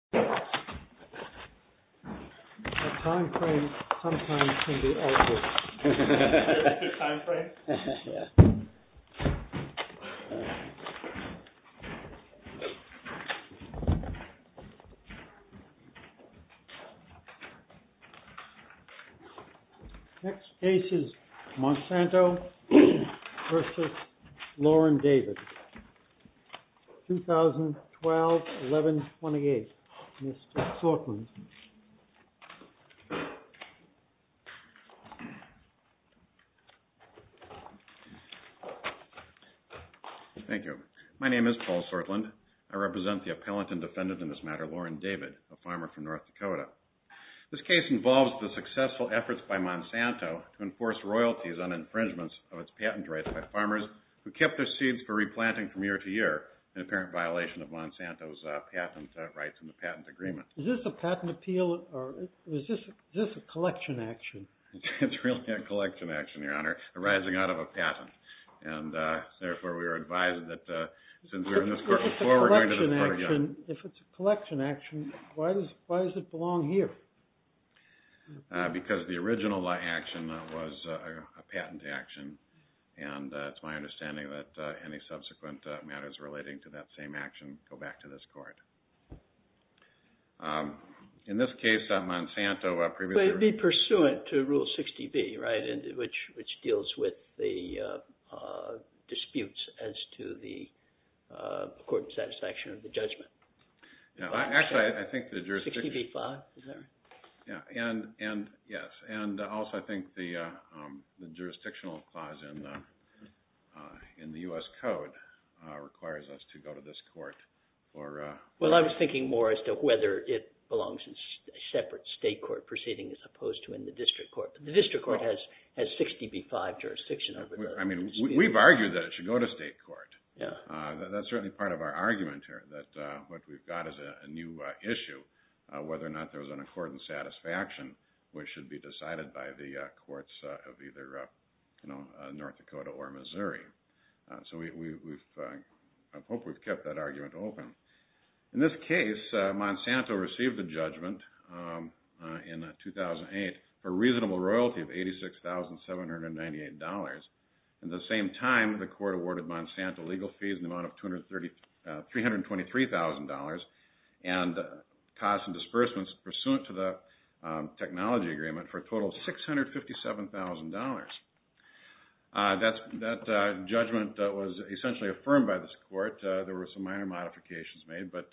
2012-11-28 My name is Paul Sortland. I represent the appellant and defendant in this matter, Lauren David, a farmer from North Dakota. This case involves the successful efforts by Monsanto to enforce royalties on infringements of its patent rights by farmers who kept their seeds for replanting from year to year in apparent violation of Monsanto's patent rights in the patent agreement. Is this a patent appeal or is this a collection action? It's really a collection action, Your Honor, arising out of a patent. And therefore we are advised that since we're in this court before we're going to this court again. If it's a collection action, why does it belong here? Because the original action was a patent action, and it's my understanding that any subsequent matters relating to that same action go back to this court. In this case, Monsanto previously Would it be pursuant to Rule 60B, right, which deals with the disputes as to the court's satisfaction of the judgment? Actually, I think the jurisdictional clause in the U.S. Code requires us to go to this court. Well, I was thinking more as to whether it belongs in a separate state court proceeding as opposed to in the district court. The district court has 60B-5 jurisdiction. I mean, we've argued that it should go to state court. That's certainly part of our argument, which we've got as a new issue, whether or not there's an accordant satisfaction which should be decided by the courts of either North Dakota or Missouri. So I hope we've kept that argument open. In this case, Monsanto received a judgment in 2008 for reasonable royalty of $86,798. At the same time, the court awarded Monsanto legal fees in the amount of $323,000 and costs and disbursements pursuant to the technology agreement for a total of $657,000. That judgment was essentially affirmed by this court. There were some minor modifications made, but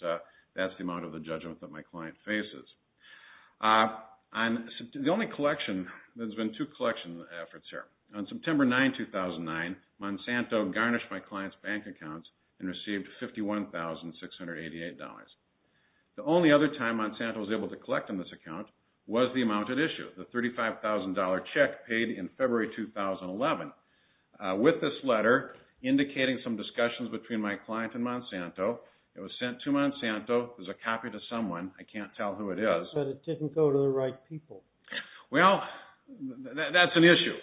that's the amount of the judgment that my client faces. The only collection, there's been two collection efforts here. On September 9, 2009, Monsanto garnished my client's bank accounts and received $51,688. The only other time Monsanto was able to collect on this account was the amount at issue, the $35,000 check paid in February 2011 with this letter indicating some discussions between my client and Monsanto. It was sent to Monsanto. It was a copy to someone. I can't tell who it is. But it didn't go to the right people. Well, that's an issue.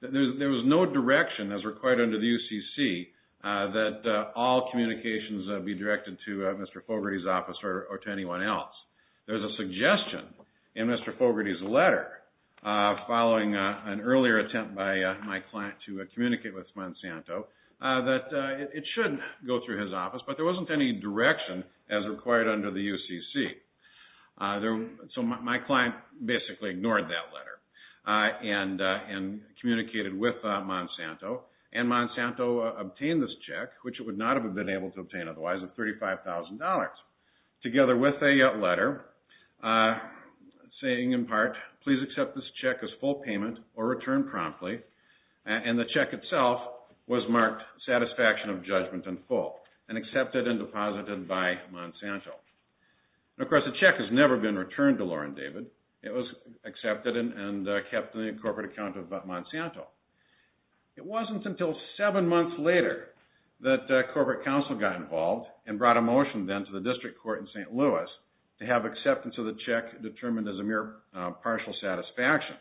There was no direction as required under the UCC that all communications be directed to Mr. Fogarty's office or to anyone else. There's a suggestion in Mr. Fogarty's letter following an earlier attempt by my client to communicate with Monsanto that it should go through his office, but there wasn't any direction as required under the UCC. So my client basically ignored that letter and communicated with Monsanto, and Monsanto obtained this check, which it would not have been able to obtain otherwise, of $35,000 together with a letter saying in part, please accept this check as full payment or return promptly, and the check itself was marked satisfaction of judgment in full and accepted and deposited by Monsanto. Of course, the check has never been returned to Laura and David. It was accepted and kept in the corporate account of Monsanto. It wasn't until seven months later that corporate counsel got involved and brought a motion then to the district court in St. Louis to have acceptance of the check determined as a mere partial satisfaction,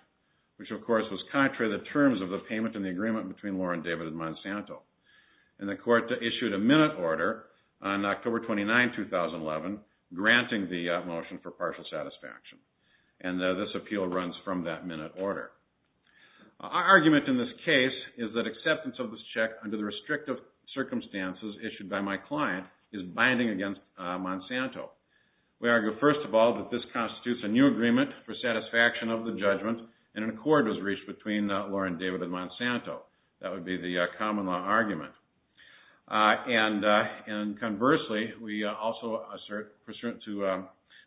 which of course was contrary to the terms of the payment and the agreement between Laura and David and Monsanto. And the court issued a minute order on October 29, 2011, granting the motion for partial satisfaction, and this appeal runs from that minute order. Our argument in this case is that acceptance of this check under the restrictive circumstances issued by my client is binding against Monsanto. We argue first of all that this constitutes a new agreement for satisfaction of the judgment and an accord was reached between Laura and David and Monsanto. That would be the common law argument. And conversely, we also assert pursuant to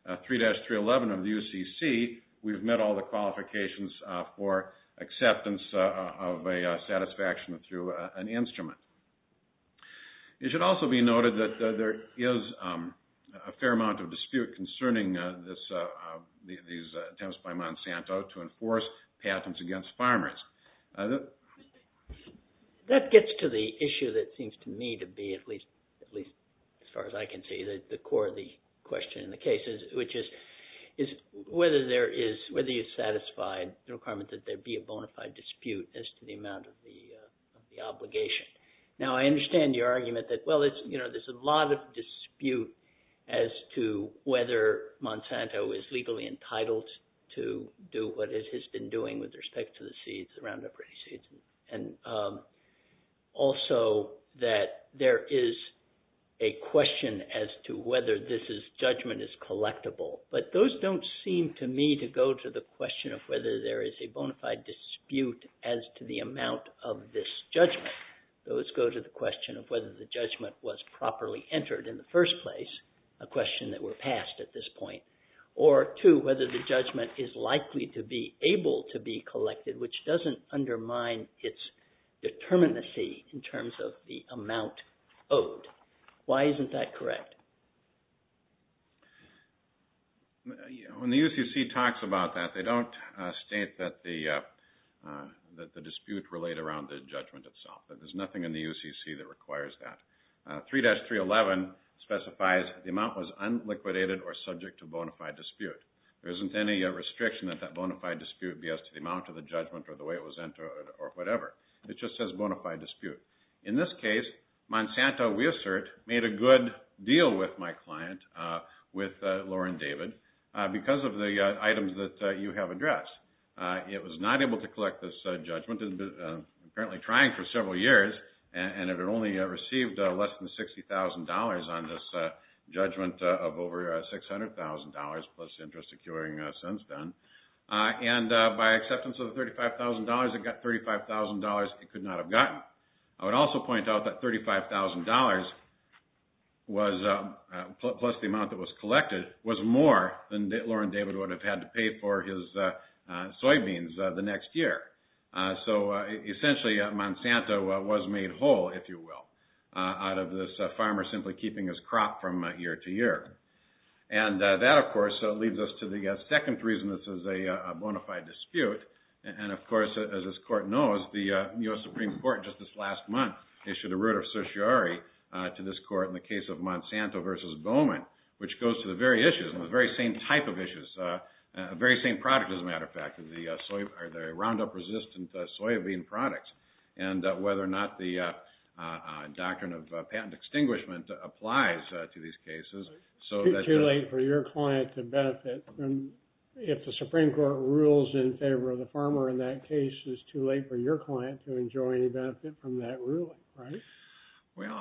3-311 of the UCC, we've met all the qualifications for acceptance of a satisfaction through an instrument. It should also be noted that there is a fair amount of dispute concerning these attempts by Monsanto to enforce patents against farmers. That gets to the issue that seems to me to be, at least as far as I can see, the core of the question in the case, which is whether there is, whether you satisfy the requirement that there be a bona fide dispute as to the amount of the obligation. Now, I understand your argument that, well, it's, you know, there's a lot of dispute as to whether Monsanto is legally entitled to do what it has been doing with respect to seeds, the Roundup Ready seeds, and also that there is a question as to whether this judgment is collectible. But those don't seem to me to go to the question of whether there is a bona fide dispute as to the amount of this judgment. Those go to the question of whether the judgment was properly entered in the first place, a question that were passed at this point, or two, whether the judgment is likely to be collected, which doesn't undermine its determinacy in terms of the amount owed. Why isn't that correct? When the UCC talks about that, they don't state that the dispute relate around the judgment itself. There's nothing in the UCC that requires that. 3-311 specifies the amount was unliquidated or subject to bona fide dispute. There isn't any restriction that that bona fide dispute be as to the amount of the judgment or the way it was entered or whatever. It just says bona fide dispute. In this case, Monsanto, we assert, made a good deal with my client, with Lauren David, because of the items that you have addressed. It was not able to collect this judgment. It had been apparently trying for several years, and it had only received less than $60,000 on this judgment of over $600,000 plus interest accruing since then. By acceptance of the $35,000, it got $35,000 it could not have gotten. I would also point out that $35,000, plus the amount that was collected, was more than Lauren David would have had to pay for his soybeans the next year. Essentially, Monsanto was made whole, if you will, out of this farmer simply keeping his crop from year to year. That, of course, leads us to the second reason this is a bona fide dispute. Of course, as this court knows, the U.S. Supreme Court, just this last month, issued a writ of certiorari to this court in the case of Monsanto versus Bowman, which goes to the Roundup-resistant soybean products, and whether or not the doctrine of patent extinguishment applies to these cases. It's too late for your client to benefit if the Supreme Court rules in favor of the farmer in that case. It's too late for your client to enjoy any benefit from that ruling, right? Well,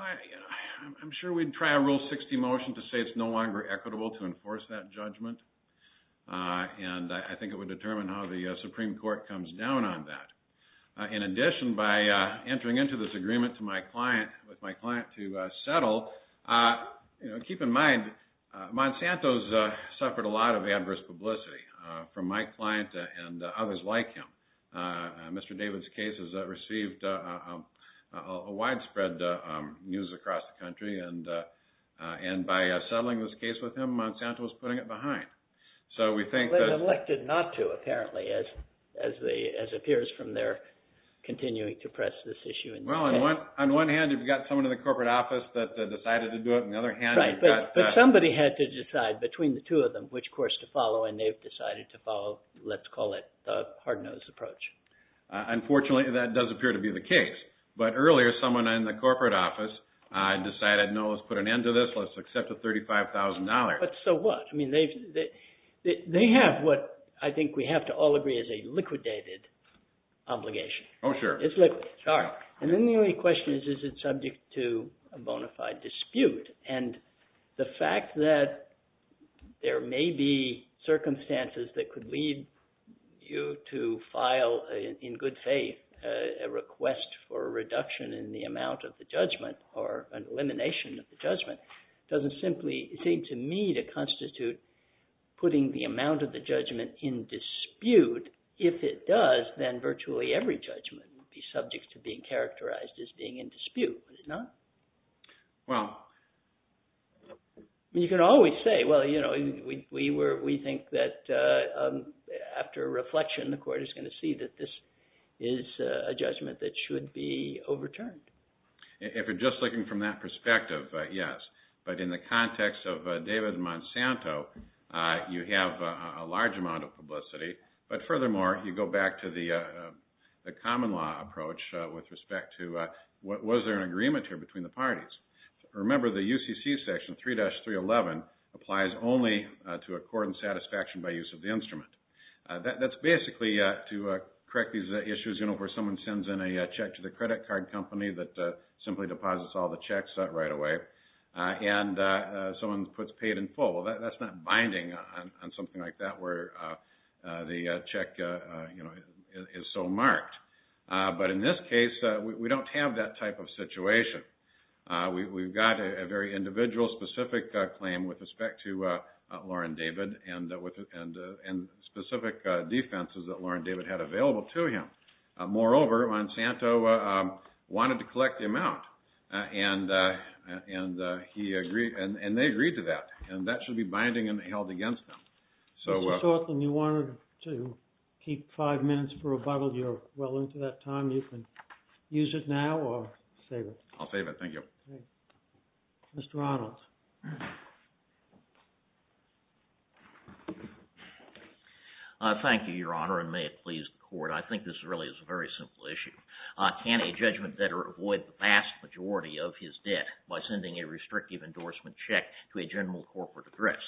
I'm sure we'd try a Rule 60 motion to say it's no longer equitable to enforce that In addition, by entering into this agreement with my client to settle, keep in mind, Monsanto's suffered a lot of adverse publicity from my client and others like him. Mr. David's case has received widespread news across the country, and by settling this case with him, Monsanto's putting it behind. They've elected not to, apparently, as appears from their continuing to press this issue. Well, on one hand, you've got someone in the corporate office that decided to do it, and on the other hand... But somebody had to decide between the two of them which course to follow, and they've decided to follow, let's call it, the hard-nosed approach. Unfortunately, that does appear to be the case. But earlier, someone in the corporate office decided, no, let's put an end to this. Let's accept the $35,000. But so what? They have what I think we have to all agree is a liquidated obligation. Oh, sure. It's liquid, sorry. And then the only question is, is it subject to a bona fide dispute? And the fact that there may be circumstances that could lead you to file, in good faith, a request for a reduction in the amount of the judgment or an elimination of the judgment doesn't simply seem to me to constitute putting the amount of the judgment in dispute. If it does, then virtually every judgment would be subject to being characterized as being in dispute. Is it not? Well... You can always say, well, you know, we think that after reflection, the court is going to see that this is a judgment that should be overturned. If you're just looking from that perspective, yes. But in the context of David Monsanto, you have a large amount of publicity. But furthermore, you go back to the common law approach with respect to, was there an agreement here between the parties? Remember, the UCC section, 3-311, applies only to a court in satisfaction by use of the instrument. That's basically, to correct these issues, you know, where someone sends in a check to the credit card company that simply deposits all the checks right away, and someone puts paid in full. Well, that's not binding on something like that where the check, you know, is so marked. But in this case, we don't have that type of situation. We've got a very individual, specific claim with respect to Lauren David and specific defenses that Lauren David had available to him. Moreover, Monsanto wanted to collect the amount, and they agreed to that, and that should be binding and held against them. Mr. Thornton, you wanted to keep five minutes for rebuttal. You're well into that time. You can use it now or save it. I'll save it. Thank you. Mr. Arnold. Thank you, Your Honor, and may it please the court. I think this really is a very simple issue. Can a judgment debtor avoid the vast majority of his debt by sending a restrictive endorsement check to a general corporate address?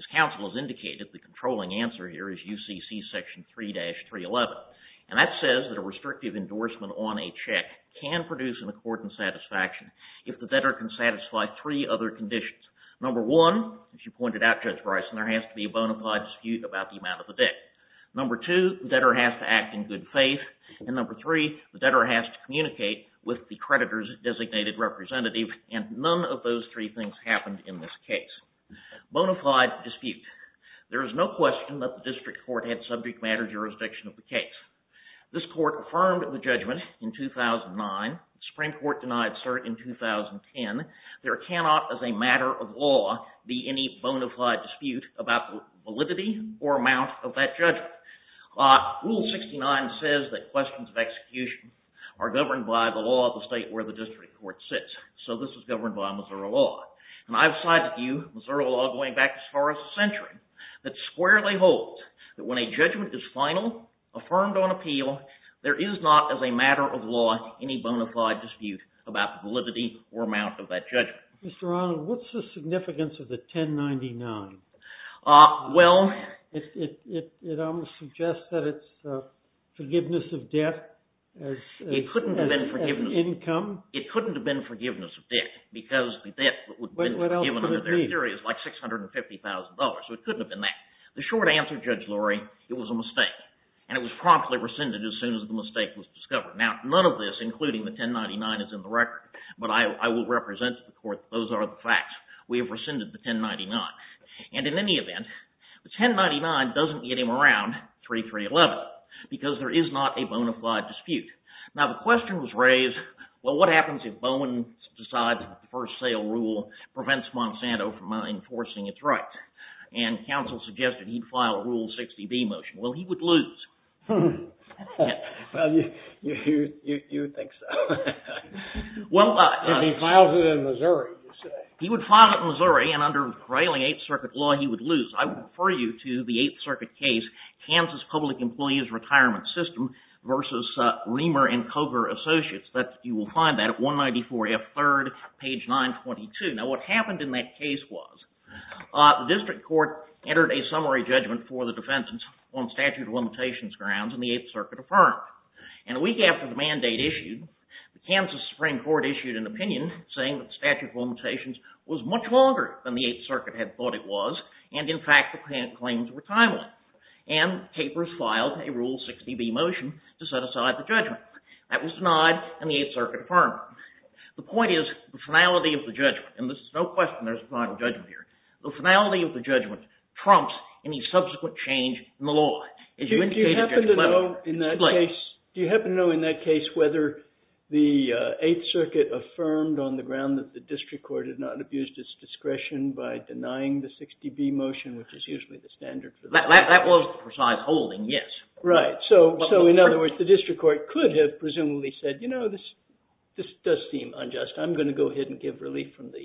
As counsel has indicated, the controlling answer here is UCC Section 3-311, and that says that a restrictive endorsement on a check can produce an accordant satisfaction if the debtor can satisfy three other conditions. Number one, as you pointed out, Judge Bryson, there has to be a bona fide dispute about the amount of the debt. Number two, the debtor has to act in good faith, and number three, the debtor has to communicate with the creditor's designated representative, and none of those three things happened in this case. Bona fide dispute. There is no question that the district court had subject matter jurisdiction of the case. This court affirmed the judgment in 2009. The Supreme Court denied cert in 2010. There cannot, as a matter of law, be any bona fide dispute about the validity or amount of that judgment. Rule 69 says that questions of execution are governed by the law of the state where the district court sits. So this is governed by Missouri law. And I've sided with you, Missouri law going back as far as a century, that squarely holds that when a judgment is final, affirmed on appeal, there is not, as a matter of law, any bona fide dispute about the validity or amount of that judgment. Mr. Arnold, what's the significance of the 1099? Well... It almost suggests that it's forgiveness of debt as income? It couldn't have been forgiveness of debt because the debt that would have been forgiven under their theory is like $650,000, so it couldn't have been that. The short answer, Judge Lurie, it was a mistake, and it was promptly rescinded as soon as the mistake was discovered. But I will represent the court that those are the facts. We have rescinded the 1099. And in any event, the 1099 doesn't get him around 3311 because there is not a bona fide dispute. Now, the question was raised, well, what happens if Bowen decides that the first sale rule prevents Monsanto from enforcing its rights? And counsel suggested he'd file a Rule 60B motion. Well, he would lose. Well, you think so. If he files it in Missouri, you say. He would file it in Missouri, and under prevailing 8th Circuit law, he would lose. I would refer you to the 8th Circuit case, Kansas Public Employees Retirement System v. Reamer and Cogar Associates. You will find that at 194F 3rd, page 922. Now, what happened in that case was the district court entered a summary judgment for the defense on statute of limitations grounds, and the 8th Circuit affirmed it. And a week after the mandate issued, the Kansas Supreme Court issued an opinion saying that the statute of limitations was much longer than the 8th Circuit had thought it was, and in fact, the claims were timely. And papers filed a Rule 60B motion to set aside the judgment. That was denied, and the 8th Circuit affirmed it. The point is, the finality of the judgment, and there's no question there's a final judgment here, the finality of the judgment trumps any subsequent change in the law. Do you happen to know, in that case, whether the 8th Circuit affirmed on the ground that the district court had not abused its discretion by denying the 60B motion, which is usually the standard? That was the precise holding, yes. Right, so in other words, the district court could have presumably said, you know, this does seem unjust. I'm going to go ahead and give relief from the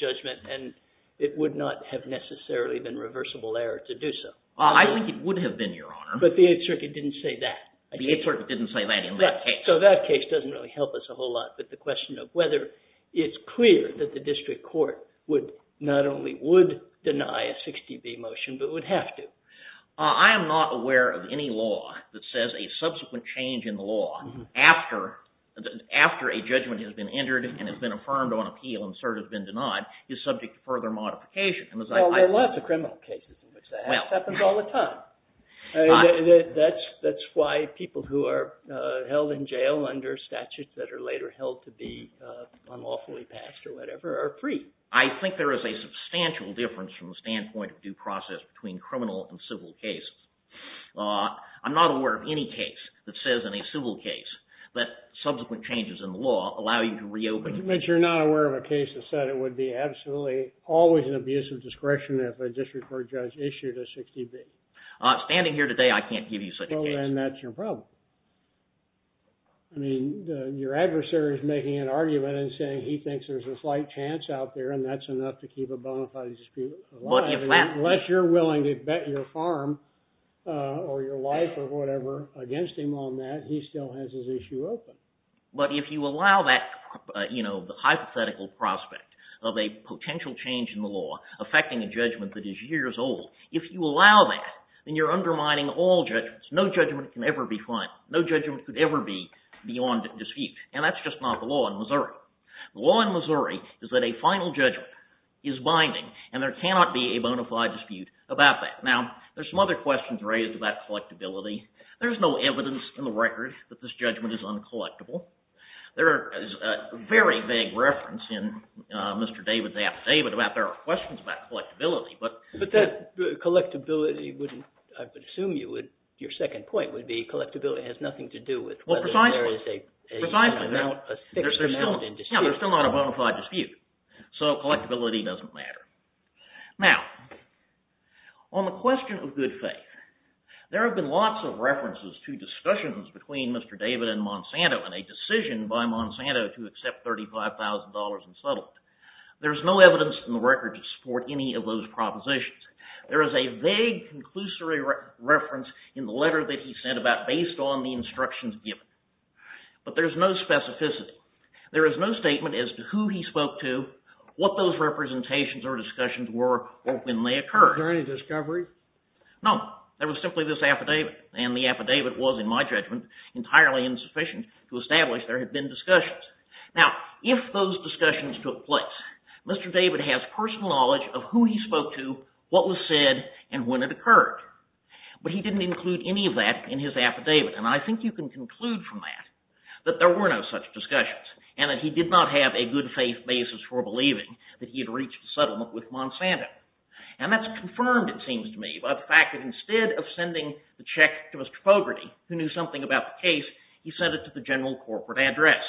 judgment, and it would not have necessarily been reversible error to do so. I think it would have been, Your Honor. But the 8th Circuit didn't say that. The 8th Circuit didn't say that in that case. So that case doesn't really help us a whole lot, but the question of whether it's clear that the district court not only would deny a 60B motion, but would have to. I am not aware of any law that says a subsequent change in the law after a judgment has been entered and has been affirmed on appeal and cert has been denied is subject to further modification. Well, there are lots of criminal cases in which that happens all the time. That's why people who are held in jail under statutes that are later held to be unlawfully passed or whatever are free. I think there is a substantial difference from the standpoint of due process between criminal and civil cases. I'm not aware of any case that says in a civil case that subsequent changes in the law allow you to reopen. But you're not aware of a case that said it would be absolutely always an abuse of discretion if a district court judge issued a 60B? Standing here today, I can't give you such a case. Well, then that's your problem. I mean, your adversary is making an argument and saying he thinks there's a slight chance out there and that's enough to keep a bona fide dispute alive. Unless you're willing to bet your farm or your life or whatever against him on that, he still has his issue open. But if you allow that hypothetical prospect of a potential change in the law affecting a judgment that is years old, if you allow that, then you're undermining all judgments. No judgment can ever be final. No judgment could ever be beyond dispute. And that's just not the law in Missouri. The law in Missouri is that a final judgment is binding and there cannot be a bona fide dispute about that. Now, there's some other questions raised about collectibility. There's no evidence in the record that this judgment is uncollectible. There is a very vague reference in Mr. David's affidavit about there are questions about collectibility. But that collectibility wouldn't – I would assume you would – your second point would be collectibility has nothing to do with whether there is a fixed amount in dispute. Yeah, there's still not a bona fide dispute, so collectibility doesn't matter. Now, on the question of good faith, there have been lots of references to discussions between Mr. David and Monsanto and a decision by Monsanto to accept $35,000 in settlement. There's no evidence in the record to support any of those propositions. There is a vague, conclusory reference in the letter that he sent about based on the instructions given. But there's no specificity. There is no statement as to who he spoke to, what those representations or discussions were, or when they occurred. Was there any discovery? No. There was simply this affidavit. And the affidavit was, in my judgment, entirely insufficient to establish there had been discussions. Now, if those discussions took place, Mr. David has personal knowledge of who he spoke to, what was said, and when it occurred. But he didn't include any of that in his affidavit. And I think you can conclude from that that there were no such discussions and that he did not have a good faith basis for believing that he had reached a settlement with Monsanto. And that's confirmed, it seems to me, by the fact that instead of sending the check to Mr. Fogarty, who knew something about the case, he sent it to the general corporate address.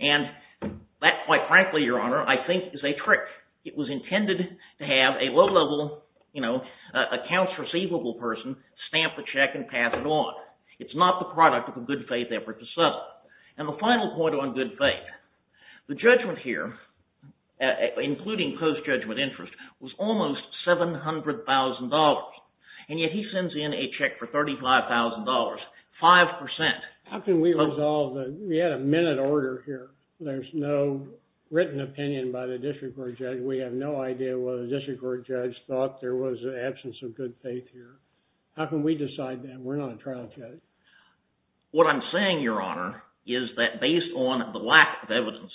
And that, quite frankly, Your Honor, I think is a trick. It was intended to have a low-level accounts receivable person stamp the check and pass it on. It's not the product of a good faith effort to settle. And the final point on good faith. The judgment here, including post-judgment interest, was almost $700,000. And yet he sends in a check for $35,000, 5%. How can we resolve that? We had a minute order here. There's no written opinion by the district court judge. We have no idea whether the district court judge thought there was an absence of good faith here. How can we decide that? We're not a trial judge. What I'm saying, Your Honor, is that based on the lack of evidence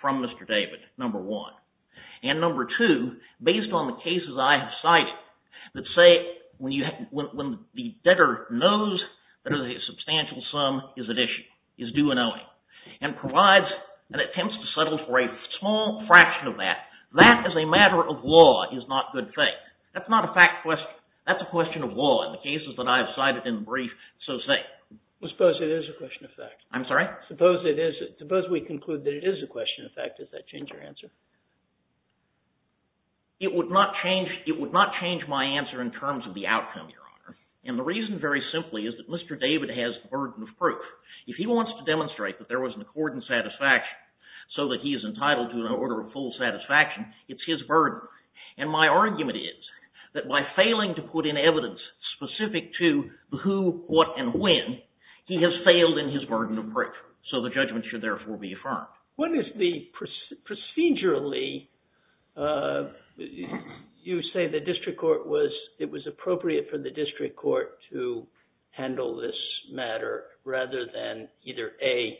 from Mr. David, number one, and number two, based on the cases I have cited that say when the debtor knows that a substantial sum is at issue, is due an owing, and provides an attempt to settle for a small fraction of that, that as a matter of law is not good faith. That's not a fact question. That's a question of law. In the cases that I have cited in the brief, so say. Suppose it is a question of fact. I'm sorry? Suppose we conclude that it is a question of fact. Does that change your answer? It would not change my answer in terms of the outcome, Your Honor. And the reason very simply is that Mr. David has the burden of proof. If he wants to demonstrate that there was an accord and satisfaction so that he is entitled to an order of full satisfaction, it's his burden. And my argument is that by failing to put in evidence specific to who, what, and when, he has failed in his burden of proof. So the judgment should therefore be affirmed. What is the procedurally, you say the district court was, it was appropriate for the district court to handle this matter rather than either A,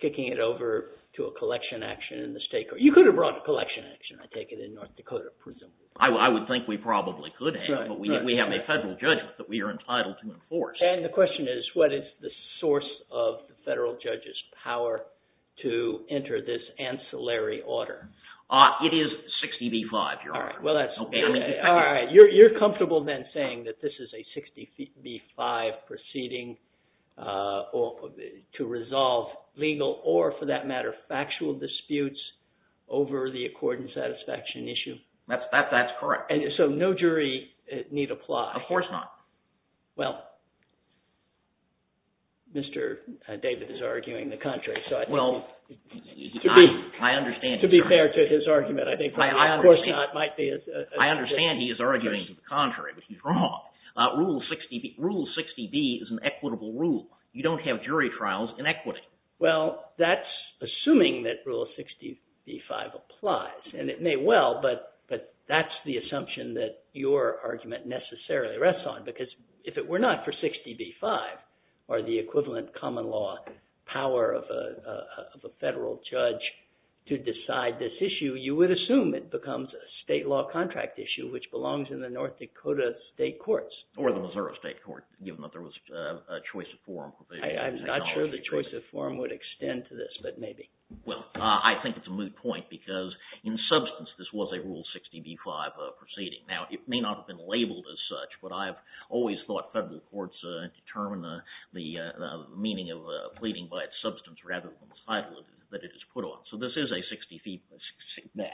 kicking it over to a collection action in the state court. You could have brought a collection action, I take it, in North Dakota, presumably. I would think we probably could have, but we have a federal judgment that we are entitled to enforce. And the question is, what is the source of the federal judge's power to enter this ancillary order? All right. You're comfortable then saying that this is a 60 v. 5 proceeding to resolve legal or, for that matter, factual disputes over the accord and satisfaction issue? That's correct. So no jury need apply? Of course not. Well, Mr. David is arguing the contrary. Well, I understand. To be fair to his argument, I think, of course, it might be. I understand he is arguing the contrary, which is wrong. Rule 60B is an equitable rule. You don't have jury trials in equity. Well, that's assuming that Rule 60 v. 5 applies. And it may well, but that's the assumption that your argument necessarily rests on. Because if it were not for 60 v. 5 or the equivalent common law power of a federal judge to decide this issue, you would assume it becomes a state law contract issue, which belongs in the North Dakota state courts. Or the Missouri state court, given that there was a choice of forum. I'm not sure the choice of forum would extend to this, but maybe. Well, I think it's a moot point because, in substance, this was a Rule 60 v. 5 proceeding. Now, it may not have been labeled as such, but I've always thought federal courts determine the meaning of pleading by its substance rather than the title that it is put on. So this is a 60 v. 5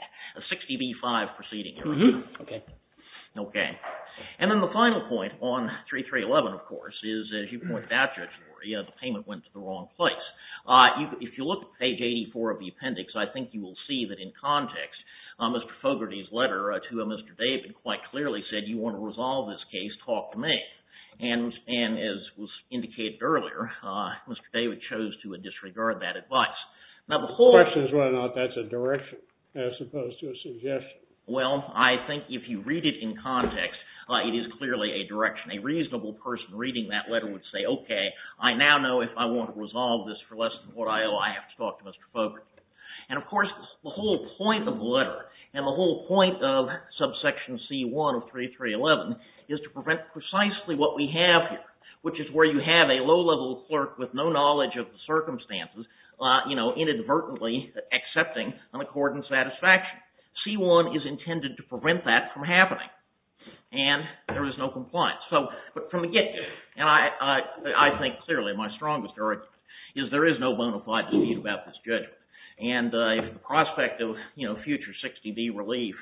proceeding. Okay. Okay. And then the final point on 3311, of course, is, as you pointed out, Judge Lurie, the payment went to the wrong place. If you look at page 84 of the appendix, I think you will see that in context, Mr. Fogarty's letter to Mr. David quite clearly said, you want to resolve this case, talk to me. And as was indicated earlier, Mr. David chose to disregard that advice. The question is whether or not that's a direction as opposed to a suggestion. Well, I think if you read it in context, it is clearly a direction. A reasonable person reading that letter would say, okay, I now know if I want to resolve this for less than what I owe, I have to talk to Mr. Fogarty. And, of course, the whole point of the letter and the whole point of subsection C1 of 3311 is to prevent precisely what we have here, which is where you have a low-level clerk with no knowledge of the circumstances, you know, inadvertently accepting an accord in satisfaction. C1 is intended to prevent that from happening. And there is no compliance. But from the get-go, I think clearly my strongest argument is there is no bona fide dispute about this judgment. And if the prospect of future 60-D relief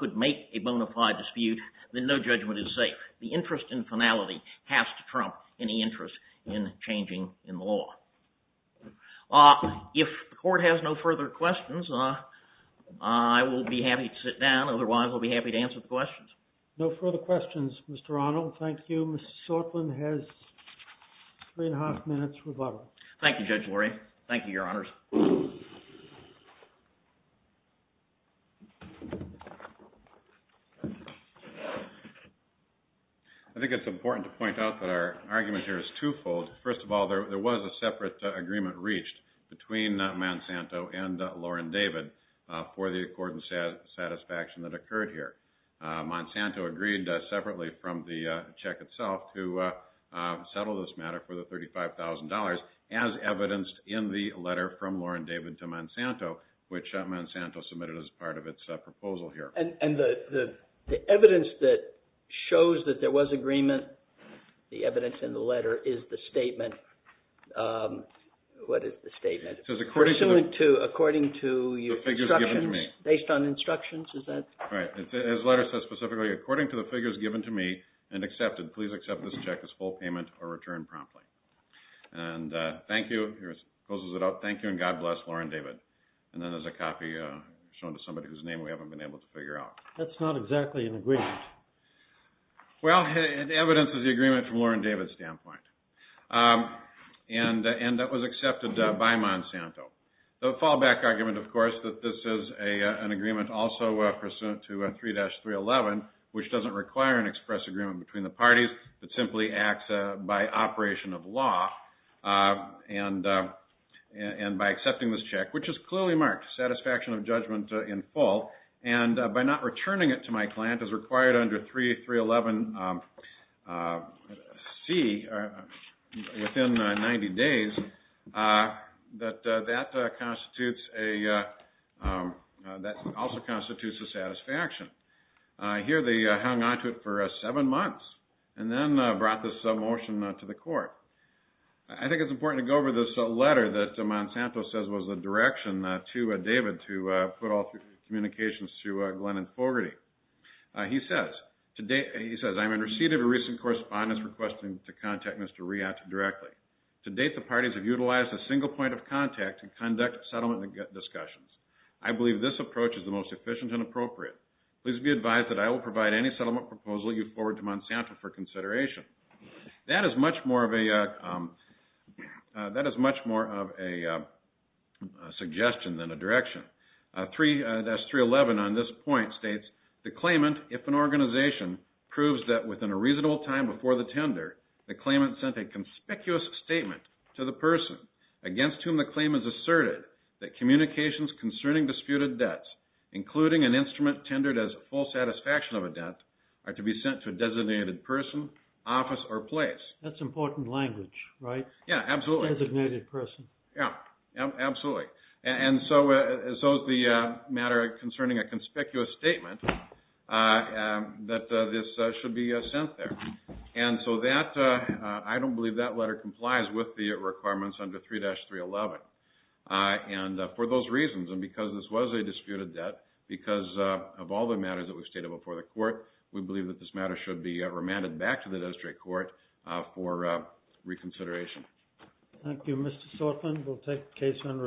could make a bona fide dispute, then no judgment is safe. The interest in finality has to trump any interest in changing the law. If the court has no further questions, I will be happy to sit down. Otherwise, I'll be happy to answer the questions. No further questions, Mr. Arnold. Thank you. Mr. Shortland has three-and-a-half minutes rebuttal. Thank you, Judge Lurie. Thank you, Your Honors. I think it's important to point out that our argument here is twofold. First of all, there was a separate agreement reached between Monsanto and Lauren David for the accord in satisfaction that occurred here. Monsanto agreed separately from the check itself to settle this matter for the $35,000, as evidenced in the letter from Lauren David to Monsanto, which Monsanto submitted as part of its proposal here. And the evidence that shows that there was agreement, the evidence in the letter, is the statement. What is the statement? According to your instructions? The figures given to me. Based on instructions? Right. His letter says specifically, according to the figures given to me and accepted, please accept this check as full payment or return promptly. And thank you. It closes it out. Thank you, and God bless Lauren David. And then there's a copy shown to somebody whose name we haven't been able to figure out. That's not exactly an agreement. Well, the evidence is the agreement from Lauren David's standpoint. And that was accepted by Monsanto. The fallback argument, of course, that this is an agreement also pursuant to 3-311, which doesn't require an express agreement between the parties. It simply acts by operation of law and by accepting this check, which is clearly marked, satisfaction of judgment in full. And by not returning it to my client as required under 3-311C within 90 days, that that constitutes a also constitutes a satisfaction. Here they hung on to it for seven months and then brought this motion to the court. I think it's important to go over this letter that Monsanto says was the direction to David to put all communications to Glennon Fogarty. He says, I'm in receipt of a recent correspondence requesting to contact Mr. Riata directly. To date, the parties have utilized a single point of contact to conduct settlement discussions. I believe this approach is the most efficient and appropriate. Please be advised that I will provide any settlement proposal you forward to Monsanto for consideration. That is much more of a suggestion than a direction. 3-311 on this point states, the claimant, if an organization, proves that within a reasonable time before the tender, the claimant sent a conspicuous statement to the person against whom the claim is asserted, that communications concerning disputed debts, including an instrument tendered as a full satisfaction of a debt, are to be sent to a designated person, office, or place. That's important language, right? Yeah, absolutely. Designated person. Yeah, absolutely. And so is the matter concerning a conspicuous statement that this should be sent there. And so that, I don't believe that letter complies with the requirements under 3-311. And for those reasons, and because this was a disputed debt, because of all the matters that were stated before the court, we believe that this matter should be remanded back to the district court for reconsideration. Thank you, Mr. Sortland. We'll take the case under advisement.